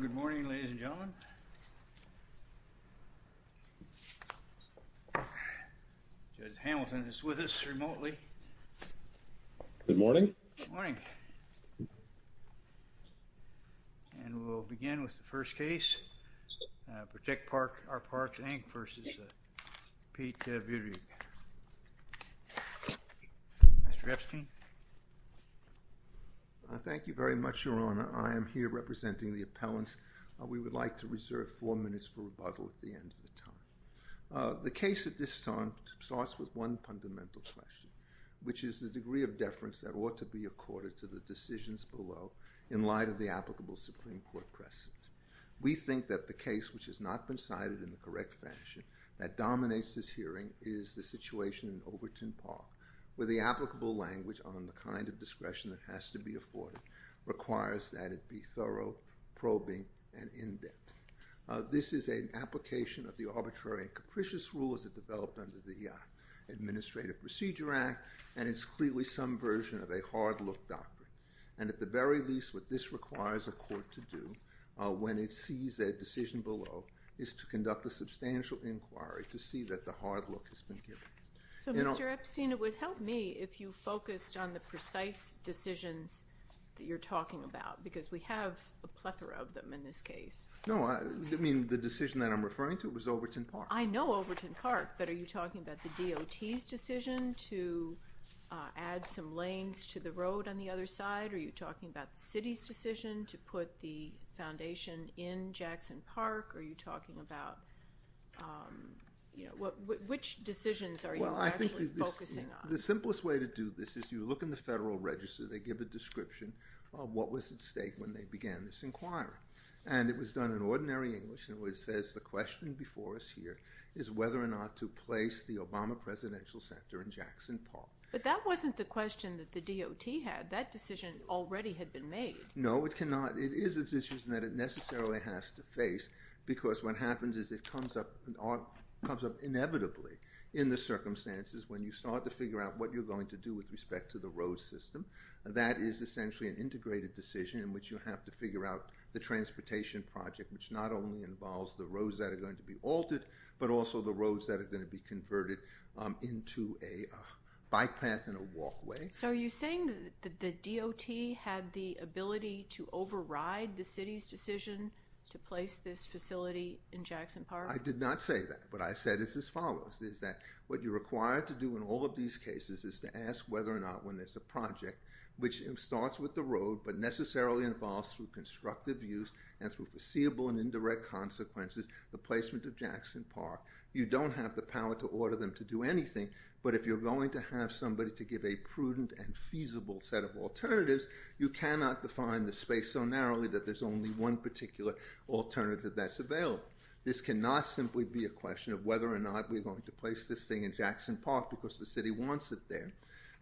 Good morning, ladies and gentlemen. Judge Hamilton is with us remotely. Good morning. Good morning. And we'll begin with the first case, Protect Our Parks, Inc. v. Pete Buttigieg. Mr. Epstein? Thank you very much, Your Honor. I am here representing the appellants. We would like to reserve four minutes for rebuttal at the end of the time. The case at this time starts with one fundamental question, which is the degree of deference that ought to be accorded to the decisions below in light of the applicable Supreme Court precedent. We think that the case which has not been cited in the correct fashion that dominates this hearing is the situation in Overton Park, where the applicable language on the kind of discretion that has to be afforded requires that it be thorough, probing, and in-depth. This is an application of the arbitrary and capricious rules that developed under the Administrative Procedure Act, and it's clearly some version of a hard-look doctrine. And at the very least, what this requires a court to do when it sees that decision below is to conduct a substantial inquiry to see that the hard look has been given. So, Mr. Epstein, it would help me if you focused on the precise decisions that you're talking about, because we have a plethora of them in this case. No, I mean the decision that I'm referring to was Overton Park. I know Overton Park, but are you talking about the DOT's decision to add some lanes to the road on the other side? Are you talking about the City's decision to put the foundation in Jackson Park? Are you talking about, you know, which decisions are you actually focusing on? The simplest way to do this is you look in the Federal Register. They give a description of what was at stake when they began this inquiry, and it was done in ordinary English, and it says the question before us here is whether or not to place the Obama Presidential Center in Jackson Park. But that wasn't the question that the DOT had. That decision already had been made. No, it cannot. It is a decision that it necessarily has to face, because what happens is it comes up inevitably in the circumstances when you start to figure out what you're going to do with respect to the road system. That is essentially an integrated decision in which you have to figure out the transportation project, which not only involves the roads that are going to be altered, but also the roads that are going to be converted into a bike path and a walkway. So are you saying that the DOT had the ability to override the City's decision to place this facility in Jackson Park? I did not say that. What I said is as follows, is that what you're required to do in all of these cases is to ask whether or not, when there's a project which starts with the road but necessarily involves through constructive use and through foreseeable and indirect consequences, the placement of Jackson Park. You don't have the set of alternatives. You cannot define the space so narrowly that there's only one particular alternative that's available. This cannot simply be a question of whether or not we're going to place this thing in Jackson Park because the City wants it there.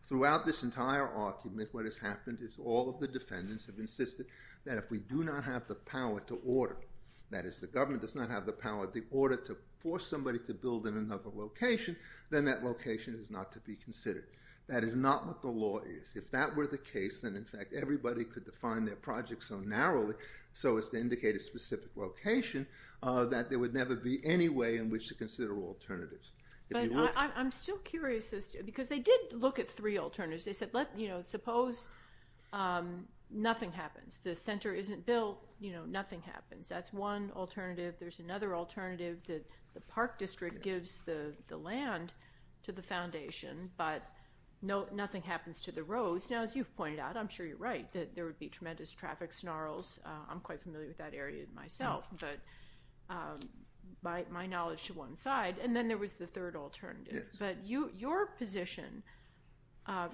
Throughout this entire argument, what has happened is all of the defendants have insisted that if we do not have the power to order, that is, the government does not have the power of the order to force somebody to build in another location, then that location is not to be considered. That is not what the law is. If that were the case, then in fact everybody could define their project so narrowly so as to indicate a specific location that there would never be any way in which to consider alternatives. But I'm still curious because they did look at three alternatives. They said, suppose nothing happens. The center isn't built, nothing happens. That's one alternative. There's another alternative that the park district gives the land to the foundation, but nothing happens to the roads. Now, as you've pointed out, I'm sure you're right, that there would be tremendous traffic snarls. I'm quite familiar with that area myself, but my knowledge to one side. And then there was the third alternative. But your position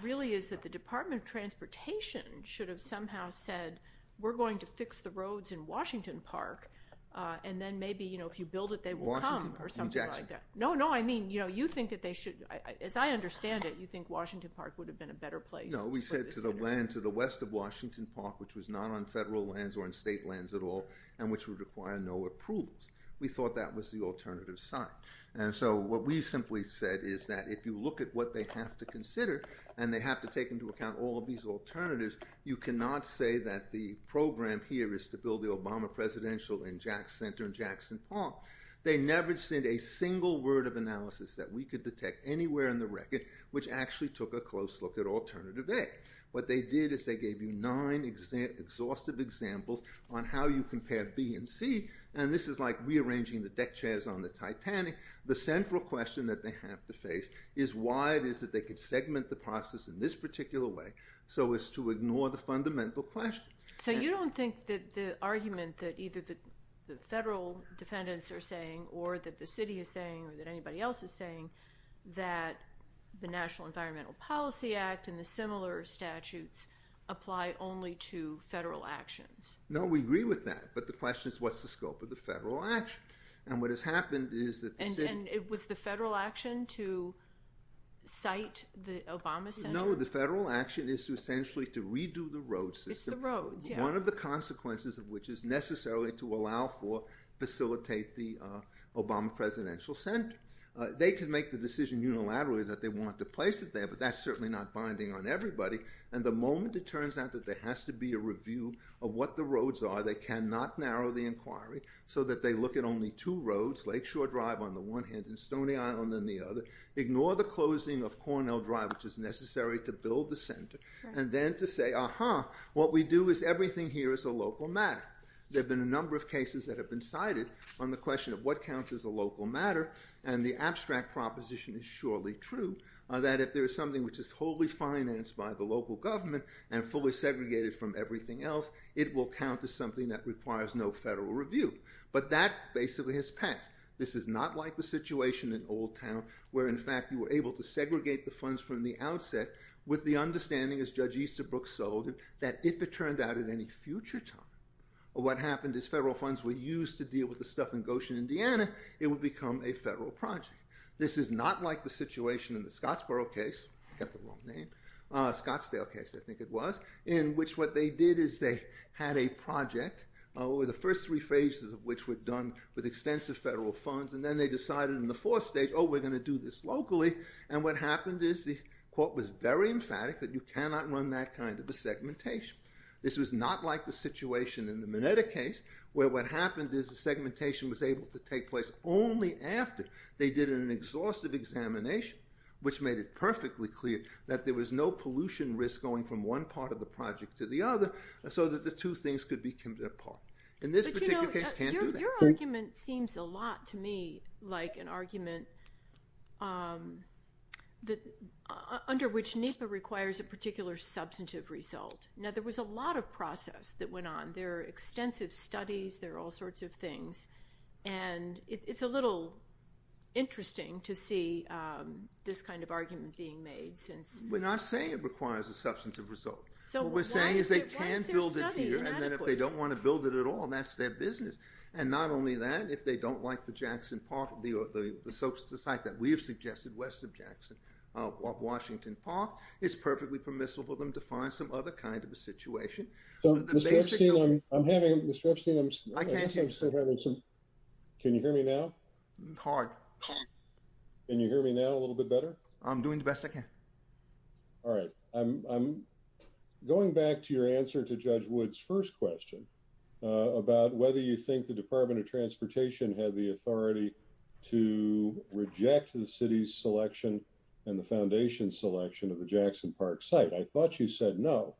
really is that the Department of Transportation should have somehow said, we're going to fix the roads in Washington Park, and then maybe if you build it, they will come or something like that. No, no, I mean, you think that they should, as I understand it, you think Washington Park would have been a better place. No, we said to the west of Washington Park, which was not on federal lands or in state lands at all, and which would require no approvals. We thought that was the alternative side. And so what we simply said is that if you look at what they have to consider and they have to take into account all of these alternatives, you cannot say that the program here is to build Obama Presidential Center in Jackson Park. They never sent a single word of analysis that we could detect anywhere in the record, which actually took a close look at alternative A. What they did is they gave you nine exhaustive examples on how you compare B and C, and this is like rearranging the deck chairs on the Titanic. The central question that they have to face is why it is that they could segment the process in this particular way so as to ignore the fundamental question. So you don't think that the argument that either the federal defendants are saying, or that the city is saying, or that anybody else is saying, that the National Environmental Policy Act and the similar statutes apply only to federal actions? No, we agree with that, but the question is what's the scope of the federal action? And what has happened is that... And it was the federal action to redo the road system. It's the roads, yeah. One of the consequences of which is necessarily to allow for facilitate the Obama Presidential Center. They can make the decision unilaterally that they want to place it there, but that's certainly not binding on everybody, and the moment it turns out that there has to be a review of what the roads are, they cannot narrow the inquiry so that they look at only two roads, Lakeshore Drive on the one hand and Stony Island on the other, ignore the closing of Cornell Drive, which is necessary to build the center, and then to say, uh-huh, what we do is everything here is a local matter. There have been a number of cases that have been cited on the question of what counts as a local matter, and the abstract proposition is surely true, that if there is something which is wholly financed by the local government and fully segregated from everything else, it will count as something that requires no federal review. But that basically has passed. This is not like the situation in Old Town, where in fact you were able to segregate the funds from the outset with the understanding, as Judge Easterbrook sold it, that if it turned out at any future time, what happened is federal funds were used to deal with the stuff in Goshen, Indiana, it would become a federal project. This is not like the situation in the Scottsboro case, got the wrong name, Scottsdale case I think it was, in which what they did is they had a project over the first three phases of which were done with extensive federal funds, and then they decided in the fourth stage, oh, we're going to do this locally, and what happened is the court was very emphatic that you cannot run that kind of a segmentation. This was not like the situation in the Minetta case, where what happened is the segmentation was able to take place only after they did an exhaustive examination, which made it perfectly clear that there was no pollution risk going from one part of the project to the other, so that the two things could be kept apart. In this particular case, you can't do that. Your argument seems a lot to me like an argument under which NEPA requires a particular substantive result. Now, there was a lot of process that went on. There are extensive studies, there are all sorts of things, and it's a little interesting to see this kind of argument being made since... We're not saying it requires a substantive result. So, what we're saying is they can build it here, and then if they don't want to build it at all, that's their business. And not only that, if they don't like the Jackson Park, the site that we have suggested, Western Jackson, Washington Park, it's perfectly permissible for them to find some other kind of a situation. So, Mr. Epstein, I'm having... Mr. Epstein, I guess I'm still having some... Can you hear me now? Hard. Can you hear me now a little bit better? I'm doing the best I can. All right. I'm going back to your answer to Judge Wood's first question about whether you think the Department of Transportation had the authority to reject the city's selection and the foundation's selection of the Jackson Park site. I thought you said no,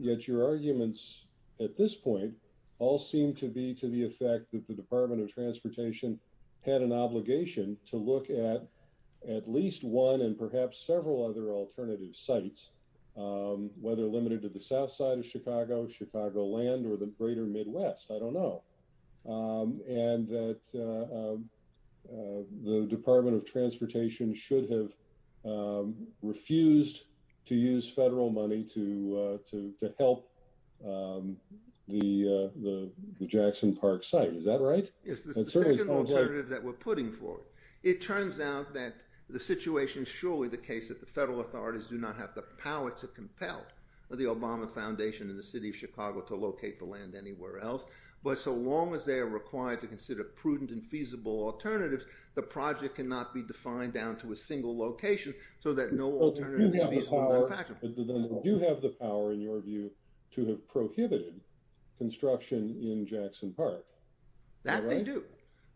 yet your arguments at this point all seem to be to the effect that the Department of Transportation had an obligation to look at at least one and perhaps several other alternative sites, whether limited to the south side of Chicago, Chicagoland, or the greater Midwest. I don't know. And that the Department of Transportation should have refused to use federal money to help the Jackson Park site. Is that right? It's the second alternative that we're putting forward. It turns out that the situation, surely the case that the federal authorities do not have the power to compel the Obama Foundation and the city of Chicago to locate the land anywhere else. But so long as they are required to consider prudent and feasible alternatives, the project cannot be defined down to a single location so that no alternative is feasible or impractical. But then they do have the power, in your view, to have prohibited construction in Jackson Park. That they do.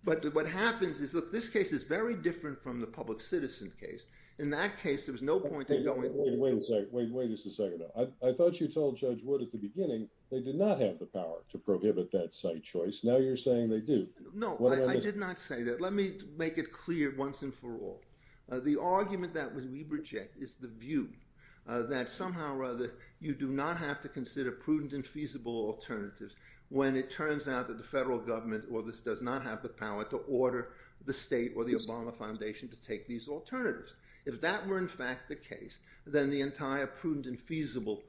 But what happens is that this case is very different from the public citizen case, in that case, there was no point in going. Wait a second. I thought you told Judge Wood at the beginning, they did not have the power to prohibit that site choice. Now you're saying they do. No, I did not say that. Let me make it clear once and for all. The argument that we reject is the view that somehow or other, you do not have to consider prudent and feasible alternatives when it turns out that the federal government or this does not have the power to order the state or the Obama Foundation to take these alternatives. If that were in fact the case, then the entire prudent and feasible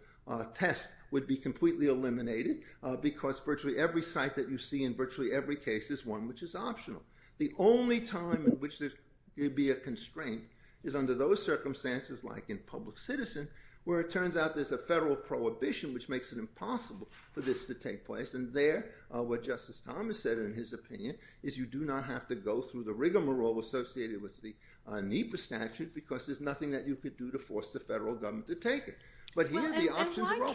test would be completely eliminated, because virtually every site that you see in virtually every case is one which is optional. The only time in which there would be a constraint is under those circumstances, like in public citizen, where it turns out there's a federal prohibition which makes it impossible for this to take place. And there, what Justice Thomas said in his opinion, is you do not have to go through the rigmarole associated with the NEPA statute, because there's nothing that you could do to force the federal government to take it. But here the options are open.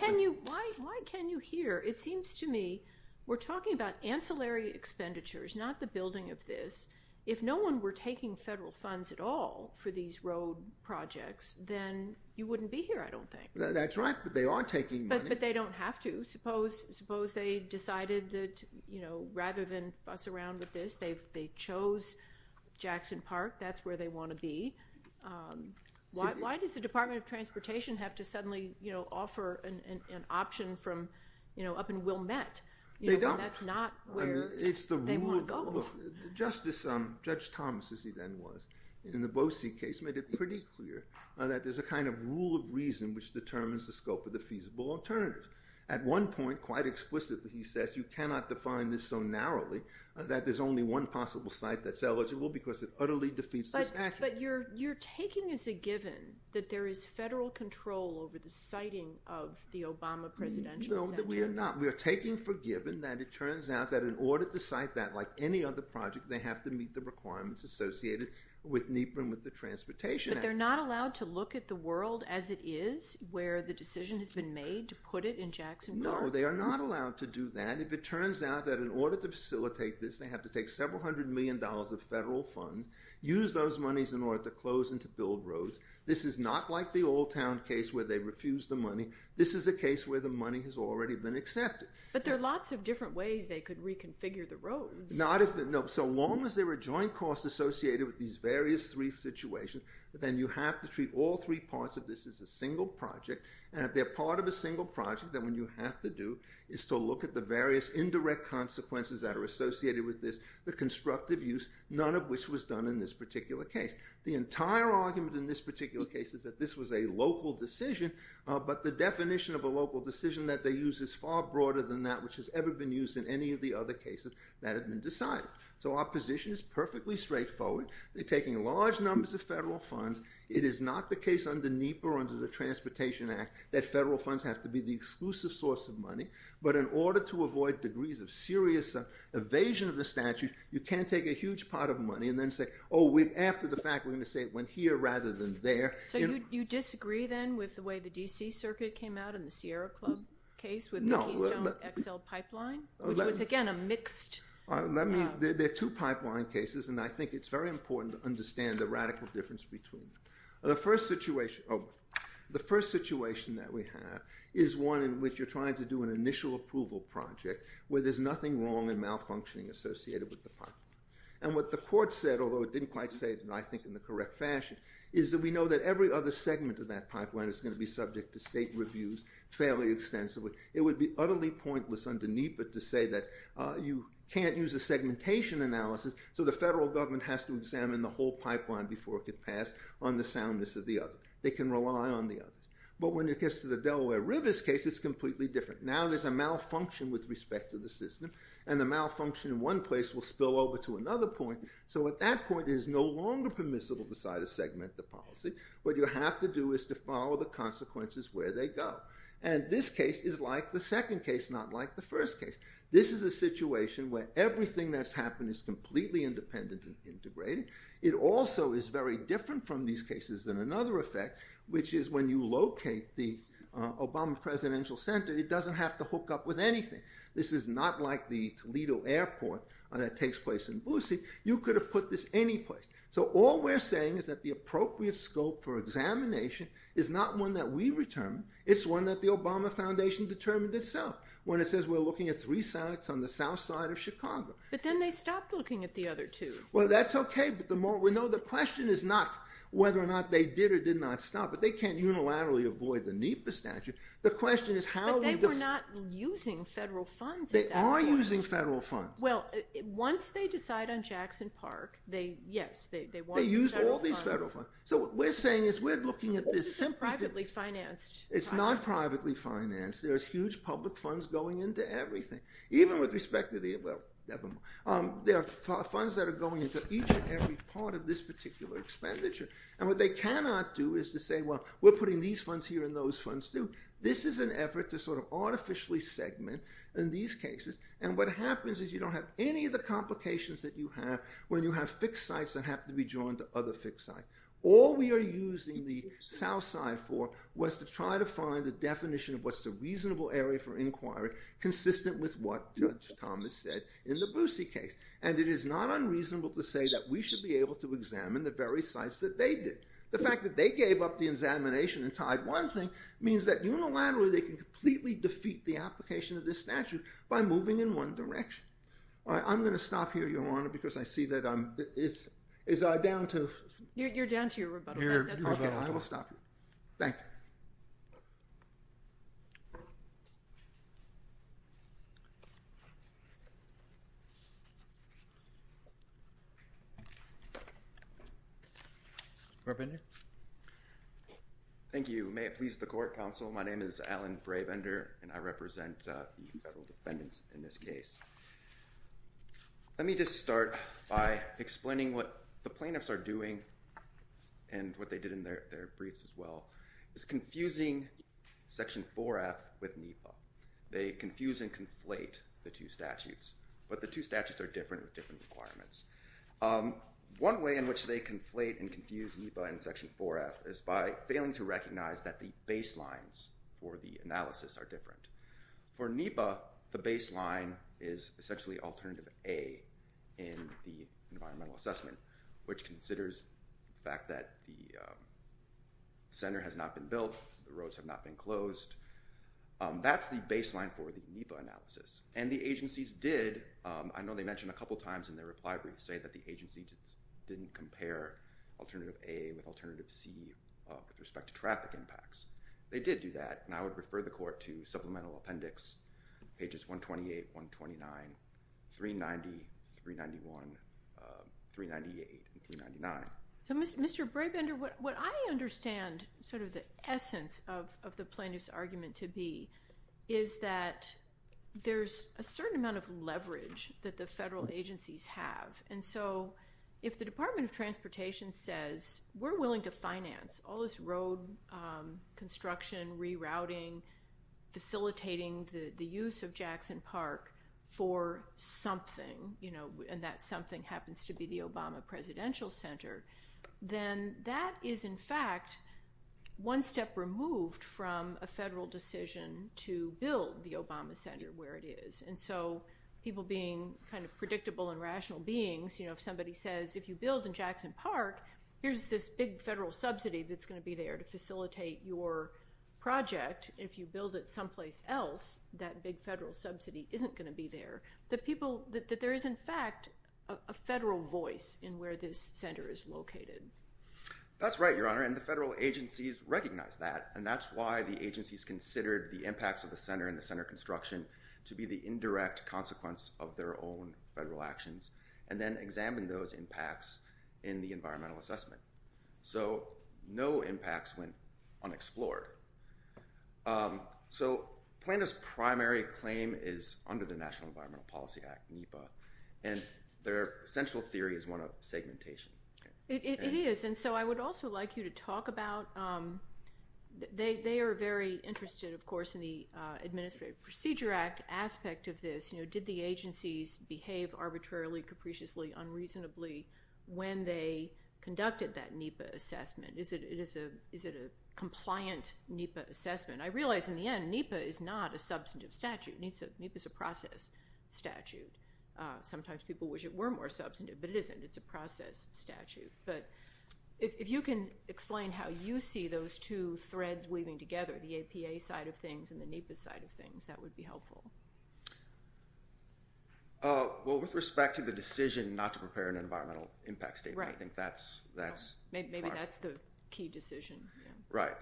Why can you hear? It seems to me we're talking about ancillary expenditures, not the building of this. If no one were taking federal funds at all for these road projects, then you wouldn't be here, I don't think. That's right, but they are taking you know, rather than fuss around with this, they chose Jackson Park, that's where they want to be. Why does the Department of Transportation have to suddenly offer an option from, you know, up in Wilmette? That's not where they want to go. Justice Thomas, as he then was, in the Boese case, made it pretty clear that there's a kind of rule of reason which determines the scope of the feasible alternative. At one point, quite explicitly, he says, you cannot define this so narrowly that there's only one possible site that's eligible, because it utterly defeats this action. But you're taking as a given that there is federal control over the siting of the Obama Presidential Center? No, we are not. We are taking for given that it turns out that in order to cite that, like any other project, they have to meet the requirements associated with NEPA and with the Transportation Act. But they're not allowed to look at the world as it is, where the decision has been made to put it in Jackson Park? No, they are not allowed to do that. If it turns out that in order to facilitate this, they have to take several hundred million dollars of federal funds, use those monies in order to close and to build roads. This is not like the Old Town case where they refused the money. This is a case where the money has already been accepted. But there are lots of different ways they could reconfigure the roads. Not if, no, so long as there are joint costs associated with these various three situations, then you have to treat all three parts of this as a single project. And if they're part of a single project, then what you have to do is to look at the various indirect consequences that are associated with this, the constructive use, none of which was done in this particular case. The entire argument in this particular case is that this was a local decision. But the definition of a local decision that they use is far broader than that which has ever been used in any of the other cases that have been decided. So our position is perfectly straightforward. They're taking large numbers of it is not the case under NEPA or under the Transportation Act that federal funds have to be the exclusive source of money. But in order to avoid degrees of serious evasion of the statute, you can't take a huge pot of money and then say, oh, after the fact, we're going to say it went here rather than there. So you disagree then with the way the D.C. Circuit came out in the Sierra Club case with the Keystone XL pipeline, which was, again, a mixed? There are two pipeline cases, and I think it's very important to understand the radical difference between them. The first situation that we have is one in which you're trying to do an initial approval project where there's nothing wrong and malfunctioning associated with the pipeline. And what the court said, although it didn't quite say it, I think, in the correct fashion, is that we know that every other segment of that pipeline is going to be subject to state reviews fairly extensively. It would be utterly pointless under NEPA to say that you can't use a segmentation analysis, so the federal government has to examine the whole pipeline before it could pass on the soundness of the other. They can rely on the others. But when it gets to the Delaware Rivers case, it's completely different. Now there's a malfunction with respect to the system, and the malfunction in one place will spill over to another point. So at that point, it is no longer permissible to decide to segment the policy. What you have to do is to follow the consequences where they go. And this case is like the second case, not like the first case. This is a situation where everything that's happened is completely independent and integrated. It also is very different from these cases than another effect, which is when you locate the Obama Presidential Center, it doesn't have to hook up with anything. This is not like the Toledo Airport that takes place in Bucy. You could have put this any place. So all we're saying is that the appropriate scope for examination is not one that we determine. It's one that the Obama Foundation determined itself when it says we're looking at three sites on the south side of Chicago. But then they stopped looking at the other two. Well, that's okay. But the question is not whether or not they did or did not stop, but they can't unilaterally avoid the NEPA statute. But they were not using federal funds at that point. They are using federal funds. Well, once they decide on Jackson Park, yes, they want some federal funds. They use all these There's huge public funds going into everything. There are funds that are going into each and every part of this particular expenditure. And what they cannot do is to say, well, we're putting these funds here and those funds too. This is an effort to sort of artificially segment in these cases. And what happens is you don't have any of the complications that you have when you have fixed sites that have to be drawn to other fixed sites. All we are using the south side for was to try to find a definition of what's the reasonable area for inquiry consistent with what Judge Thomas said in the Boosie case. And it is not unreasonable to say that we should be able to examine the very sites that they did. The fact that they gave up the examination and tied one thing means that unilaterally they can completely defeat the application of this statute by moving in one direction. I'm going to stop here, Your Honor, because I see that I'm down to... You're down to your rebuttal. I will stop. Thank you. Thank you. May it please the court, counsel. My name is Alan Brabender and I represent the federal defendants in this case. Let me just start by explaining what the plaintiffs are doing and what they did in their briefs as well is confusing Section 4F with NEPA. They confuse and conflate the two statutes, but the two statutes are different with different requirements. One way in which they conflate and confuse NEPA and Section 4F is by failing to recognize that the baselines for the analysis are different. For NEPA, the baseline is essentially alternative A in the environmental assessment, which considers the fact that the center has not been built, the roads have not been closed. That's the baseline for the NEPA analysis. The agencies did, I know they mentioned a couple of times in their reply brief, say that the agency didn't compare alternative A with alternative C with respect to traffic impacts. They did do that and I would refer the court to supplemental appendix pages 128, 129, 390, 391, 398, and 399. So Mr. Brabender, what I understand sort of the essence of the plaintiff's argument to be is that there's a certain amount of leverage that the federal agencies have. And so, if the Department of Transportation says we're willing to finance all this road construction, rerouting, facilitating the use of Jackson Park for something, and that something happens to be the Obama Presidential Center, then that is in fact one step removed from a federal decision to build the Obama Center where it is. And so, people being kind of predictable and rational beings, if somebody says, if you build in Jackson Park, here's this big federal subsidy that's going to be there to facilitate your project. If you build it someplace else, that big federal subsidy isn't going to be there. That people, that there is in fact a federal voice in where this center is located. That's right, Your Honor, and the federal agencies recognize that and that's why the agencies considered the impacts of the center and the center construction to be the indirect consequence of their own federal actions and then examine those impacts in the environmental assessment. So, no impacts went unexplored. So, PLANTA's primary claim is under the National Environmental Policy Act, NEPA, and their central theory is one of segmentation. It is, and so I would also like you to talk about, they are very interested, of course, in the Administrative Procedure Act aspect of this. You know, did the agencies behave arbitrarily, capriciously, unreasonably when they conducted that NEPA assessment? Is it a compliant NEPA assessment? I realize in the end, NEPA is not a substantive statute. NEPA is a process statute. Sometimes people wish it were more substantive, but it isn't. It's a process statute, but if you can explain how you see those two threads weaving together, the APA side of things and the NEPA side of things, that would be helpful. Well, with respect to the decision not to prepare an environmental impact statement, I think that's... Maybe that's the key decision. Right.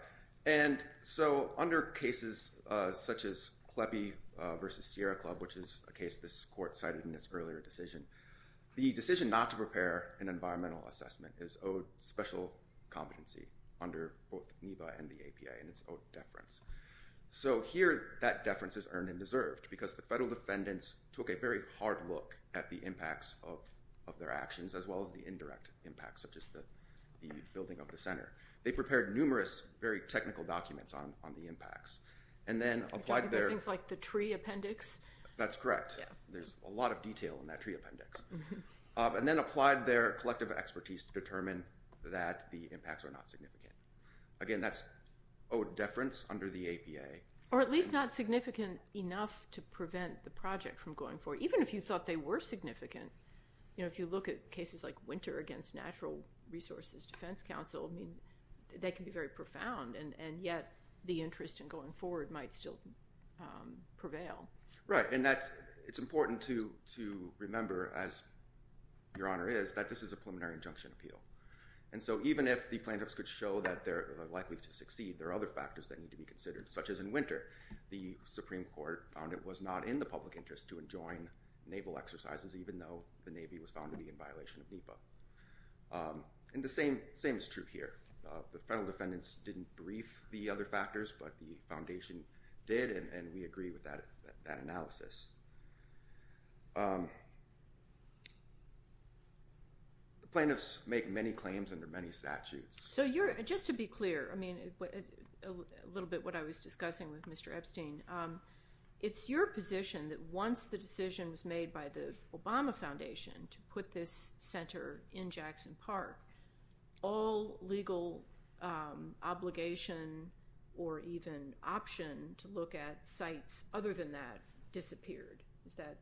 And so, under cases such as Kleppe versus Sierra Club, which is a case this court cited in its earlier decision, the decision not to prepare an environmental assessment is owed special competency under both NEPA and the APA, and it's owed deference. So here, that deference is earned and deserved, because the federal defendants took a very hard look at the impacts of their actions, as well as the indirect impacts, such as the building of the center. They prepared numerous very technical documents on the impacts, and then applied their... Things like the tree appendix? That's correct. There's a lot of detail in that tree appendix. And then applied their impacts are not significant. Again, that's owed deference under the APA. Or at least not significant enough to prevent the project from going forward, even if you thought they were significant. If you look at cases like Winter against Natural Resources Defense Council, I mean, they can be very profound, and yet the interest in going forward might still prevail. Right. And it's important to remember, as Your Honor is, that this is a preliminary injunction appeal. And so even if the plaintiffs could show that they're likely to succeed, there are other factors that need to be considered, such as in Winter, the Supreme Court found it was not in the public interest to enjoin naval exercises, even though the Navy was found to be in violation of NEPA. And the same is true here. The federal defendants didn't brief the other factors, but the foundation did, and we agree with that analysis. The plaintiffs make many claims under many statutes. So just to be clear, I mean, a little bit what I was discussing with Mr. Epstein, it's your position that once the decision was made by the Obama Foundation to put this center in Jackson Park, all legal obligation or even option to look at sites other than that disappeared. Is that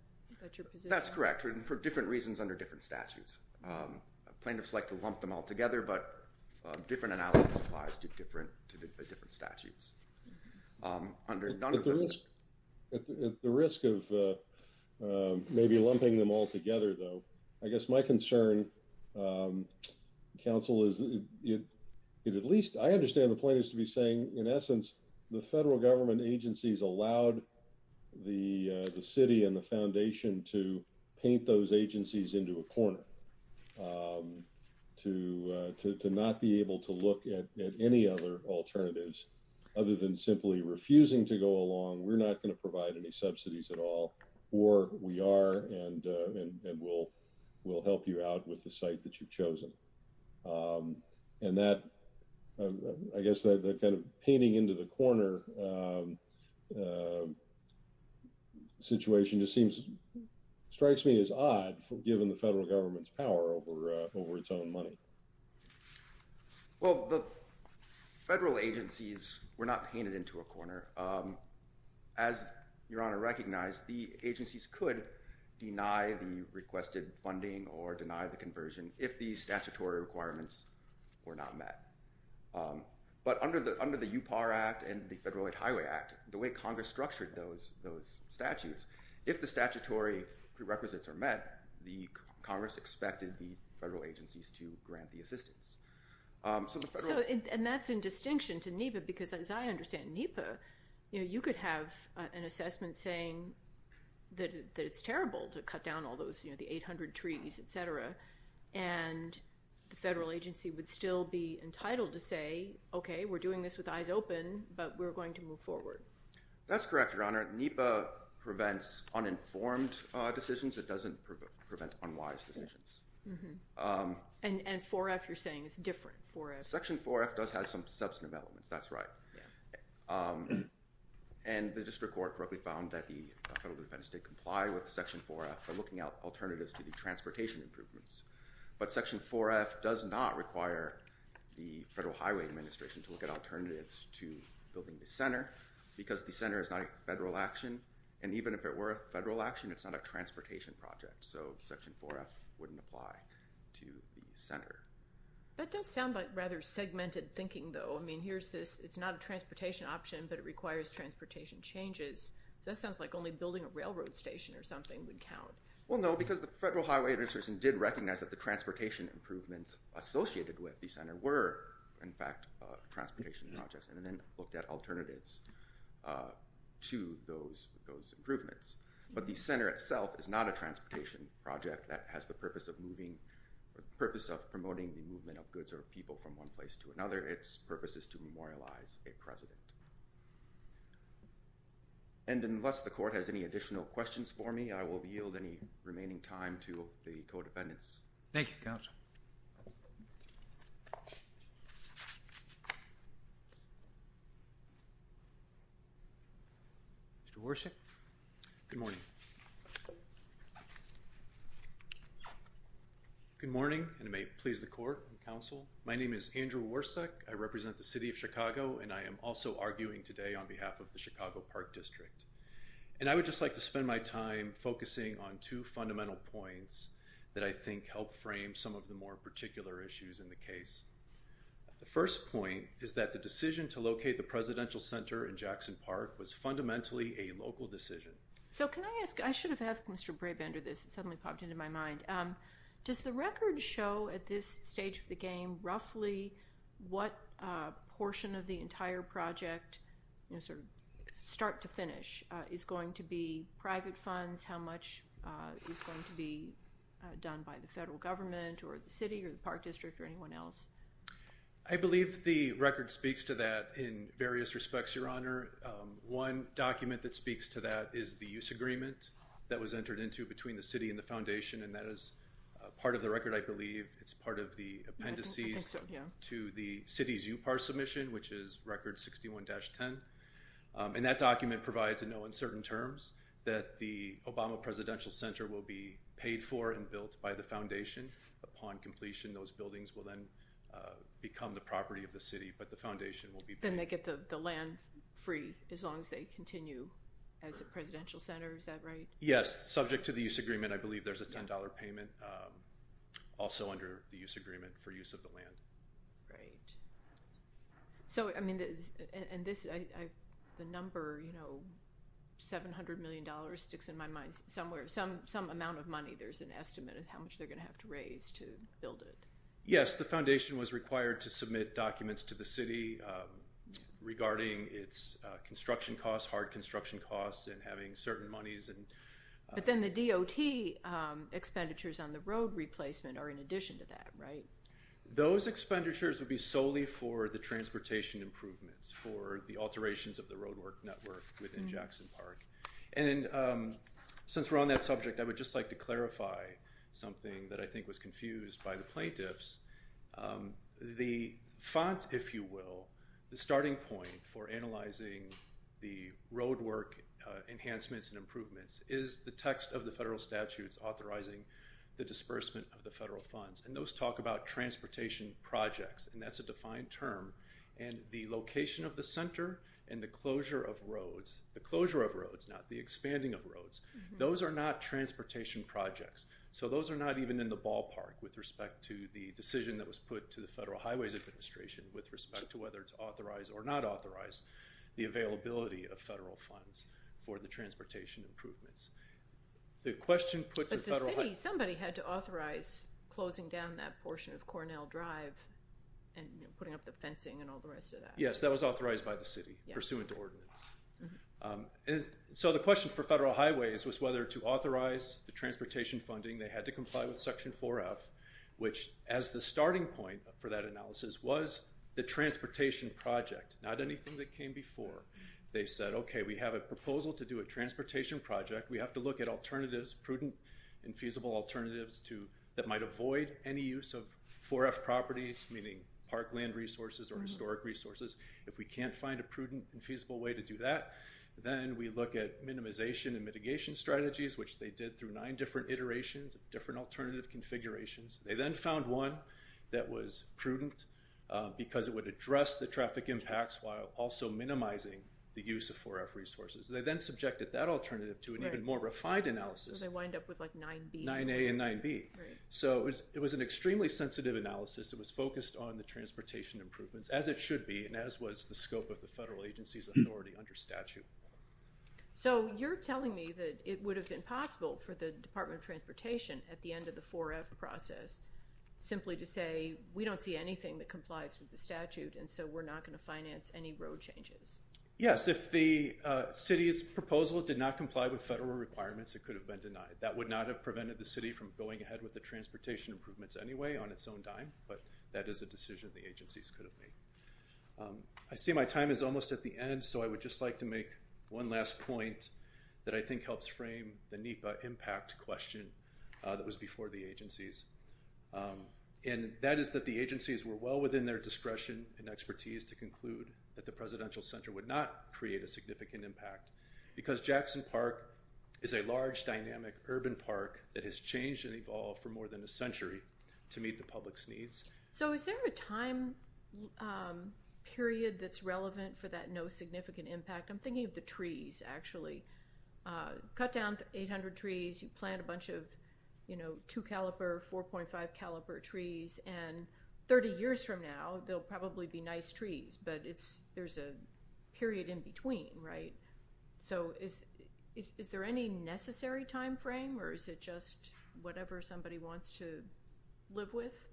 your position? That's correct, for different reasons under different statutes. Plaintiffs like to lump them all together, but different analysis applies to different statutes. At the risk of maybe lumping them all together, though, I guess my concern, counsel, is it at least I understand the point is to be saying, in essence, the federal government agencies allowed the city and the foundation to paint those agencies into a corner, to not be able to look at any other alternatives, other than simply refusing to go along. We're not going to provide any subsidies at all, or we are and we'll help you out with the site that you've chosen. And that, I guess the kind of painting into the corner situation just seems, strikes me as odd, given the federal government's power over its own money. Well, the federal agencies were not painted into a corner. As Your Honor recognized, the agencies could deny the requested funding or deny the conversion if the statutory requirements were not met. But under the UPAR Act and the Federal Aid Highway Act, the way Congress structured those statutes, if the statutory prerequisites are met, the Congress expected the federal agencies to grant the assistance. And that's in distinction to NEPA, because as I understand NEPA, you could have an assessment saying that it's terrible to cut down all those, the 800 trees, et cetera. And the federal agency would still be entitled to say, okay, we're doing this with eyes open, but we're going to move forward. That's correct, Your Honor. NEPA prevents uninformed decisions. It doesn't prevent unwise decisions. And 4F, you're saying it's different, 4F. Section 4F does have some substantive elements. That's right. And the district court correctly found that the federal defense did comply with Section 4F for looking out alternatives to the transportation improvements. But Section 4F does not require the Federal Highway Administration to look at alternatives to building the center, because the center is not a federal action. And even if it were a federal action, it's not a transportation project. So Section 4F wouldn't apply to the center. That does sound like rather segmented thinking, though. I mean, here's this, it's not a transportation option, but it requires transportation changes. That sounds like only building a railroad station or something would count. Well, no, because the Federal Highway Administration did recognize that the transportation improvements associated with the center were, in fact, transportation projects, and then looked at alternatives to those improvements. But the center itself is not a transportation project that has the purpose of promoting the movement of goods or people from one place to another. Its purpose is to memorialize a president. And unless the court has any additional questions for me, I will yield any remaining time to the co-defendants. Thank you, counsel. Mr. Worsak. Good morning. Good morning, and may it please the court and counsel. My name is Andrew Worsak. I represent the City of Chicago, and I am also arguing today on behalf of the Chicago Park District. And I would just like to spend my time focusing on two fundamental points that I think help frame some of the more particular issues in the case. The first point is that the decision to locate the Presidential Center in Jackson Park was fundamentally a local decision. So can I ask, I should have asked Mr. Brabender this, it suddenly popped into my mind. Does the record show at this stage of the game roughly what portion of the entire project, sort of start to finish, is going to be private funds, how much is going to be done by the federal government or the city or the park district or anyone else? I believe the record speaks to that in various respects, Your Honor. One document that speaks to that is the use agreement that was entered into between the city and the foundation, and that is part of the record, I believe. It's part of the appendices to the city's UPAR submission, which is record 61-10. And that document provides a note in certain terms that the Obama Presidential Center will be paid for and built by the foundation. Upon completion, those buildings will then become the property of the city, but the foundation will be paid. Then they get the land free as long as they continue as a Presidential Center, is that right? Yes, subject to the use agreement, I believe there's a $10 payment also under the use agreement for use of the land. Great. So, I mean, and this, the number, you know, $700 million sticks in my mind somewhere, some amount of money, there's an estimate of how much they're going to have to raise to build it. Yes, the foundation was required to submit documents to the city regarding its construction costs and having certain monies and... But then the DOT expenditures on the road replacement are in addition to that, right? Those expenditures would be solely for the transportation improvements, for the alterations of the roadwork network within Jackson Park. And since we're on that subject, I would just like to clarify something that I think was confused by plaintiffs. The font, if you will, the starting point for analyzing the roadwork enhancements and improvements is the text of the federal statutes authorizing the disbursement of the federal funds. And those talk about transportation projects, and that's a defined term. And the location of the center and the closure of roads, the closure of roads, not the expanding of roads, those are not transportation projects. So those are not even in the ballpark with respect to the decision that was put to the Federal Highways Administration with respect to whether to authorize or not authorize the availability of federal funds for the transportation improvements. The question... But the city, somebody had to authorize closing down that portion of Cornell Drive and putting up the fencing and all the rest of that. Yes, that was authorized by the city pursuant to ordinance. So the question for Federal Highways was whether to authorize the transportation funding. They had to comply with Section 4F, which as the starting point for that analysis was the transportation project, not anything that came before. They said, okay, we have a proposal to do a transportation project. We have to look at alternatives, prudent and feasible alternatives that might avoid any use of 4F properties, meaning park land resources or historic resources. If we can't find a prudent and feasible way to do that, then we look at minimization and mitigation strategies, which they did through nine different iterations of different alternative configurations. They then found one that was prudent because it would address the traffic impacts while also minimizing the use of 4F resources. They then subjected that alternative to an even more refined analysis. So they wind up with like 9B. 9A and 9B. So it was an extremely sensitive analysis. It was focused on the transportation improvements as it should be, and as was the scope of the federal agency's authority under statute. So you're telling me that it would have been possible for the Department of Transportation at the end of the 4F process simply to say we don't see anything that complies with the statute and so we're not going to finance any road changes. Yes, if the city's proposal did not comply with federal requirements, it could have been denied. That would not have prevented the but that is a decision the agencies could have made. I see my time is almost at the end, so I would just like to make one last point that I think helps frame the NEPA impact question that was before the agencies. And that is that the agencies were well within their discretion and expertise to conclude that the Presidential Center would not create a significant impact because Jackson Park is a large dynamic urban park that has changed and evolved for more than a century to meet the public's needs. So is there a time period that's relevant for that no significant impact? I'm thinking of the trees, actually. Cut down 800 trees, you plant a bunch of two-caliber, 4.5-caliber trees, and 30 years from now, they'll probably be nice trees, but there's a period in between, right? So is there any necessary time frame or is it just whatever somebody wants to live with?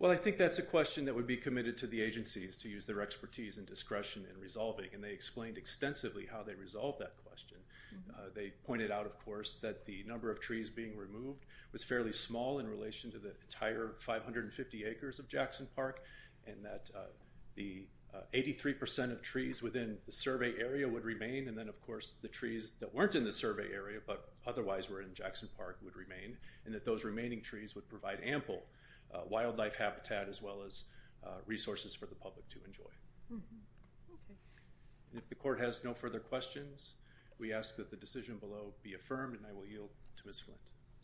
Well, I think that's a question that would be committed to the agencies to use their expertise and discretion in resolving, and they explained extensively how they resolved that question. They pointed out, of course, that the number of trees being removed was fairly small in relation to the entire 550 acres of Jackson Park, and that the 83 percent of trees within the survey area would remain, and then, of course, the trees that weren't in the survey area but otherwise were in Jackson Park would remain, that those remaining trees would provide ample wildlife habitat as well as resources for the public to enjoy. If the court has no further questions, we ask that the decision below be affirmed, and I will yield to Ms. Flint.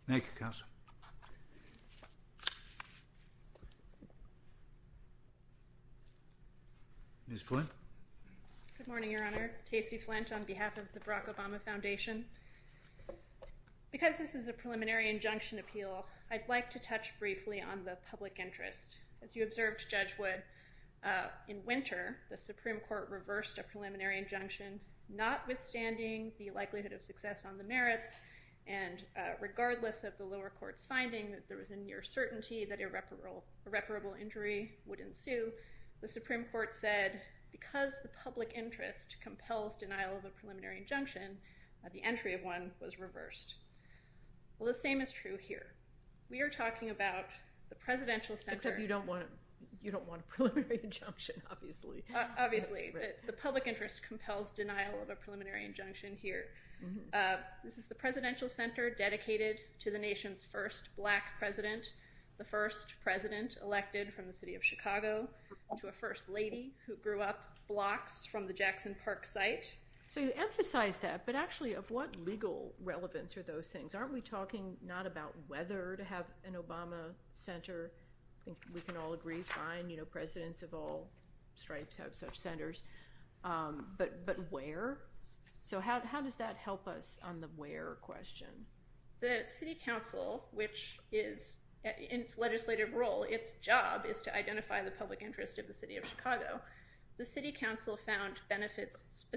Thank you, counsel. Ms. Flint? Good morning, Your Honor. Casey Flint on behalf of the Barack Obama Foundation. Because this is a preliminary injunction appeal, I'd like to touch briefly on the public interest. As you observed, Judge Wood, in winter, the Supreme Court reversed a preliminary injunction, notwithstanding the likelihood of success on the merits, and regardless of the lower court's finding that there was a near certainty that irreparable injury would ensue, the Supreme Court said, because the public interest compels denial of a preliminary injunction, the end result of one was reversed. Well, the same is true here. We are talking about the Presidential Center- Except you don't want a preliminary injunction, obviously. Obviously. The public interest compels denial of a preliminary injunction here. This is the Presidential Center dedicated to the nation's first black president, the first president elected from the city of Chicago to a first lady who grew up blocks from the Jackson Park site. So you emphasize that, but actually, of what legal relevance are those things? Aren't we talking not about whether to have an Obama Center? I think we can all agree, fine, you know, presidents of all stripes have such centers, but where? So how does that help us on the where question? The City Council, which is, in its legislative role, its job is to identify the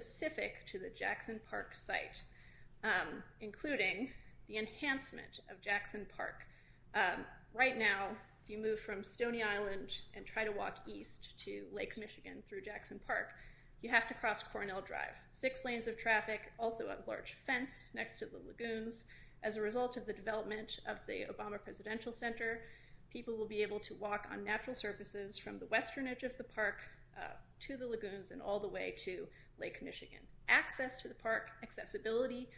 specific to the Jackson Park site, including the enhancement of Jackson Park. Right now, if you move from Stony Island and try to walk east to Lake Michigan through Jackson Park, you have to cross Cornell Drive, six lanes of traffic, also a large fence next to the lagoons. As a result of the development of the Obama Presidential Center, people will be able to walk on natural surfaces from the western edge of the park to the lagoons and all the way to Lake Michigan. Access to the park, accessibility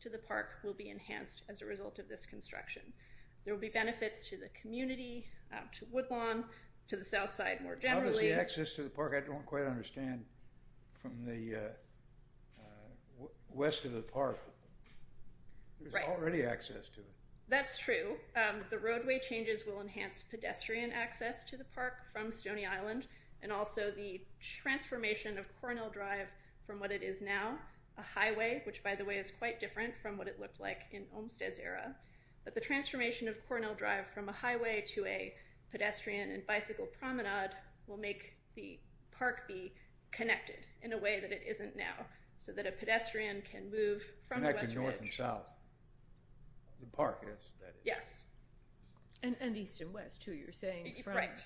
to the park will be enhanced as a result of this construction. There will be benefits to the community, to Woodlawn, to the south side more generally. How does the access to the park, I don't quite understand, from the west of the park, there's already access to it? That's true. The roadway changes will enhance pedestrian access to the park from Stony Island and also the transformation of Cornell Drive from what it is now, a highway, which by the way is quite different from what it looked like in Olmsted's era, but the transformation of Cornell Drive from a highway to a pedestrian and bicycle promenade will make the park be connected in a way that it isn't now, so that a pedestrian can move from the western edge. Connected north and south, the park is. Yes. And east and west too, you're saying,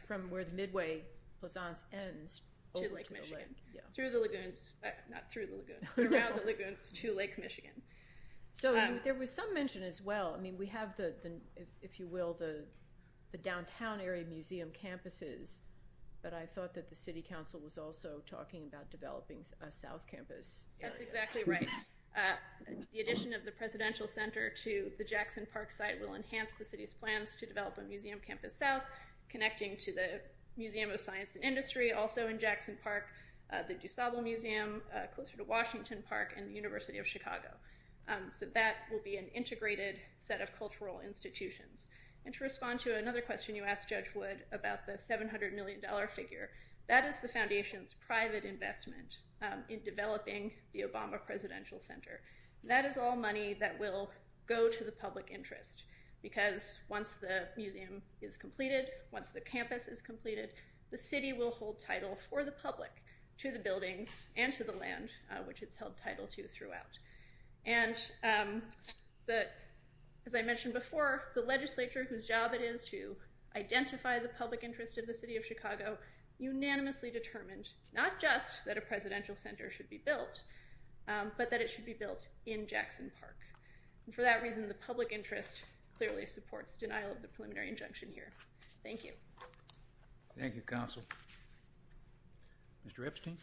from where the Midway Plaisance ends to Lake Michigan. Through the lagoons, not through the lagoons, around the lagoons to Lake Michigan. So there was some mention as well, I mean we have the, if you will, the downtown area museum campuses, but I thought that the city council was also talking about developing a south campus area. That's exactly right. The addition of the Presidential Center to the Jackson Park site will enhance the city's plans to develop a museum campus south, connecting to the Museum of Science and Industry, also in Jackson Park, the DuSable Museum, closer to Washington Park, and the University of Chicago. So that will be an integrated set of cultural institutions. And to respond to another question you asked, Judge Wood, about the 700 million dollar figure, that is the Foundation's private investment in developing the Obama Presidential Center. That is all money that will go to the public interest, because once the museum is completed, once the campus is completed, the city will hold title for the public to the buildings and to the land, which it's held title to throughout. And that, as I mentioned before, the legislature, whose job it is to identify the public interest of the city of Chicago, unanimously determined not just that a Presidential Center should be built, but that it should be built in Jackson Park. And for that reason, the public interest clearly supports denial of the preliminary injunction here. Thank you. Thank you, counsel. Mr. Epstein?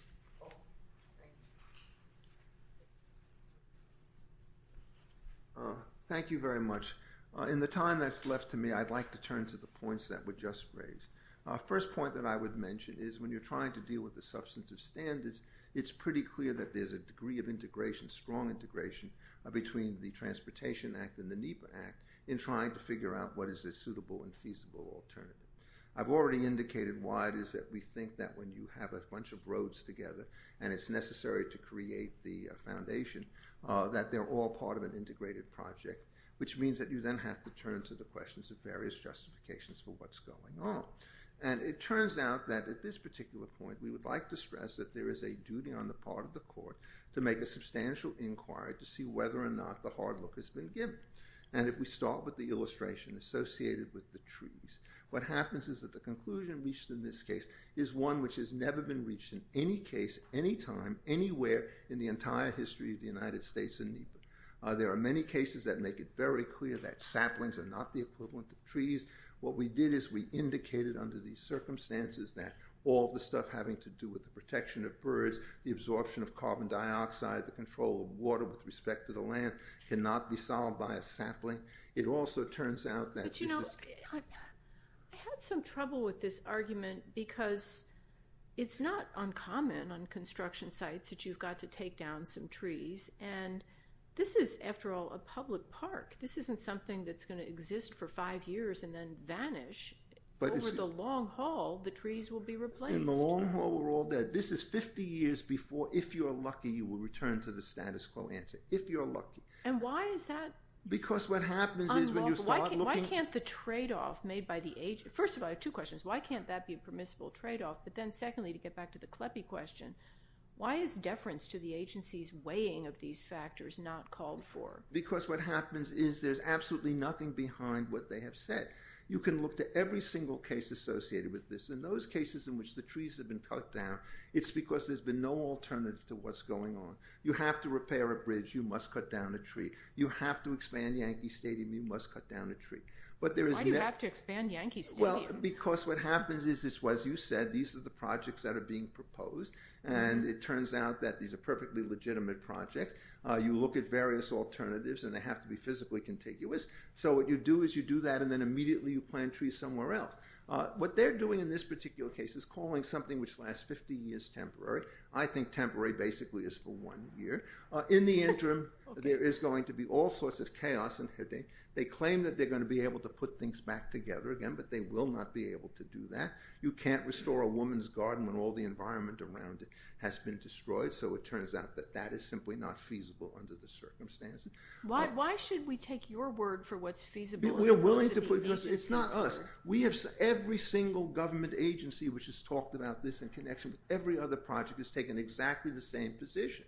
Thank you very much. In the time that's left to me, I'd like to turn to the points that were just raised. First point that I would mention is when you're trying to deal with the substantive standards, it's pretty clear that there's a degree of integration, strong integration, between the Transportation Act and the NEPA Act in trying to figure out what is a suitable and we think that when you have a bunch of roads together, and it's necessary to create the foundation, that they're all part of an integrated project, which means that you then have to turn to the questions of various justifications for what's going on. And it turns out that at this particular point, we would like to stress that there is a duty on the part of the court to make a substantial inquiry to see whether or not the hard look has been given. And if we start with the illustration associated with the trees, what happens is that the conclusion reached in this case is one which has never been reached in any case, any time, anywhere in the entire history of the United States and NEPA. There are many cases that make it very clear that saplings are not the equivalent to trees. What we did is we indicated under these circumstances that all the stuff having to do with the protection of birds, the absorption of carbon dioxide, the control of water with respect to the it also turns out that... I had some trouble with this argument because it's not uncommon on construction sites that you've got to take down some trees. And this is, after all, a public park. This isn't something that's going to exist for five years and then vanish. Over the long haul, the trees will be replaced. In the long haul, we're all dead. This is 50 years before, if you're lucky, you will return to the status quo answer, if you're lucky. And why is that unlawful? Why can't the trade-off made by the... First of all, I have two questions. Why can't that be a permissible trade-off? But then secondly, to get back to the CLEPE question, why is deference to the agency's weighing of these factors not called for? Because what happens is there's absolutely nothing behind what they have said. You can look to every single case associated with this. In those cases in which the trees have been cut down, it's because there's been no alternative to what's going on. You have to repair a bridge, you must cut down a tree. You have to expand Yankee Stadium, you must cut down a tree. Why do you have to expand Yankee Stadium? Well, because what happens is, as you said, these are the projects that are being proposed and it turns out that these are perfectly legitimate projects. You look at various alternatives and they have to be physically contiguous. So what you do is you do that and then immediately you plant trees somewhere else. What they're doing in this particular case is calling something which lasts 50 years temporary. I think temporary basically is for one year. In the interim, there is going to be all sorts of chaos and headache. They claim that they're going to be able to put things back together again, but they will not be able to do that. You can't restore a woman's garden when all the environment around it has been destroyed. So it turns out that that is simply not feasible under the circumstances. Why should we take your word for what's feasible? We're willing to put, because it's not us. We have every single government agency which has every other project has taken exactly the same position.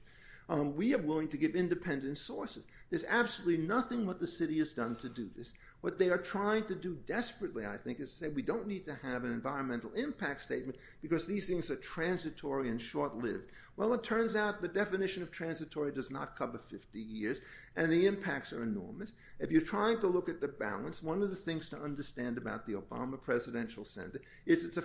We are willing to give independent sources. There's absolutely nothing what the city has done to do this. What they are trying to do desperately, I think, is say we don't need to have an environmental impact statement because these things are transitory and short-lived. Well, it turns out the definition of transitory does not cover 50 years and the impacts are enormous. If you're trying to look at the balance, one of the things to understand about the Obama Presidential Center is it's a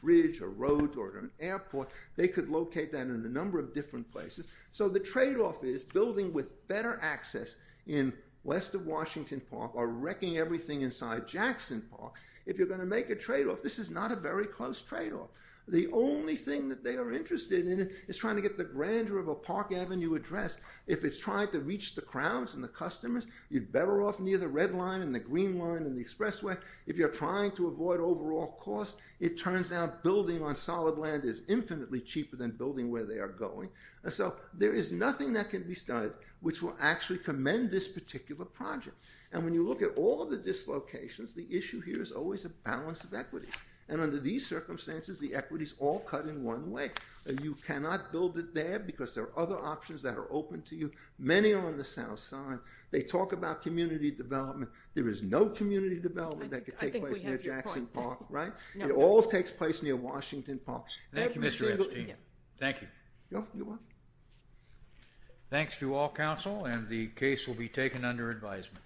bridge, a road, or an airport. They could locate that in a number of different places. So the trade-off is building with better access in west of Washington Park or wrecking everything inside Jackson Park. If you're going to make a trade-off, this is not a very close trade-off. The only thing that they are interested in is trying to get the grandeur of a Park Avenue address. If it's trying to reach the crowds and the customers, you're better off near the green line and the expressway. If you're trying to avoid overall cost, it turns out building on solid land is infinitely cheaper than building where they are going. So there is nothing that can be studied which will actually commend this particular project. And when you look at all the dislocations, the issue here is always a balance of equity. And under these circumstances, the equity is all cut in one way. You cannot build it there because there are other options that are assigned. They talk about community development. There is no community development that could take place near Jackson Park, right? It all takes place near Washington Park. Thank you, Mr. Epstein. Thank you. Thanks to all counsel and the case will be taken under advisement.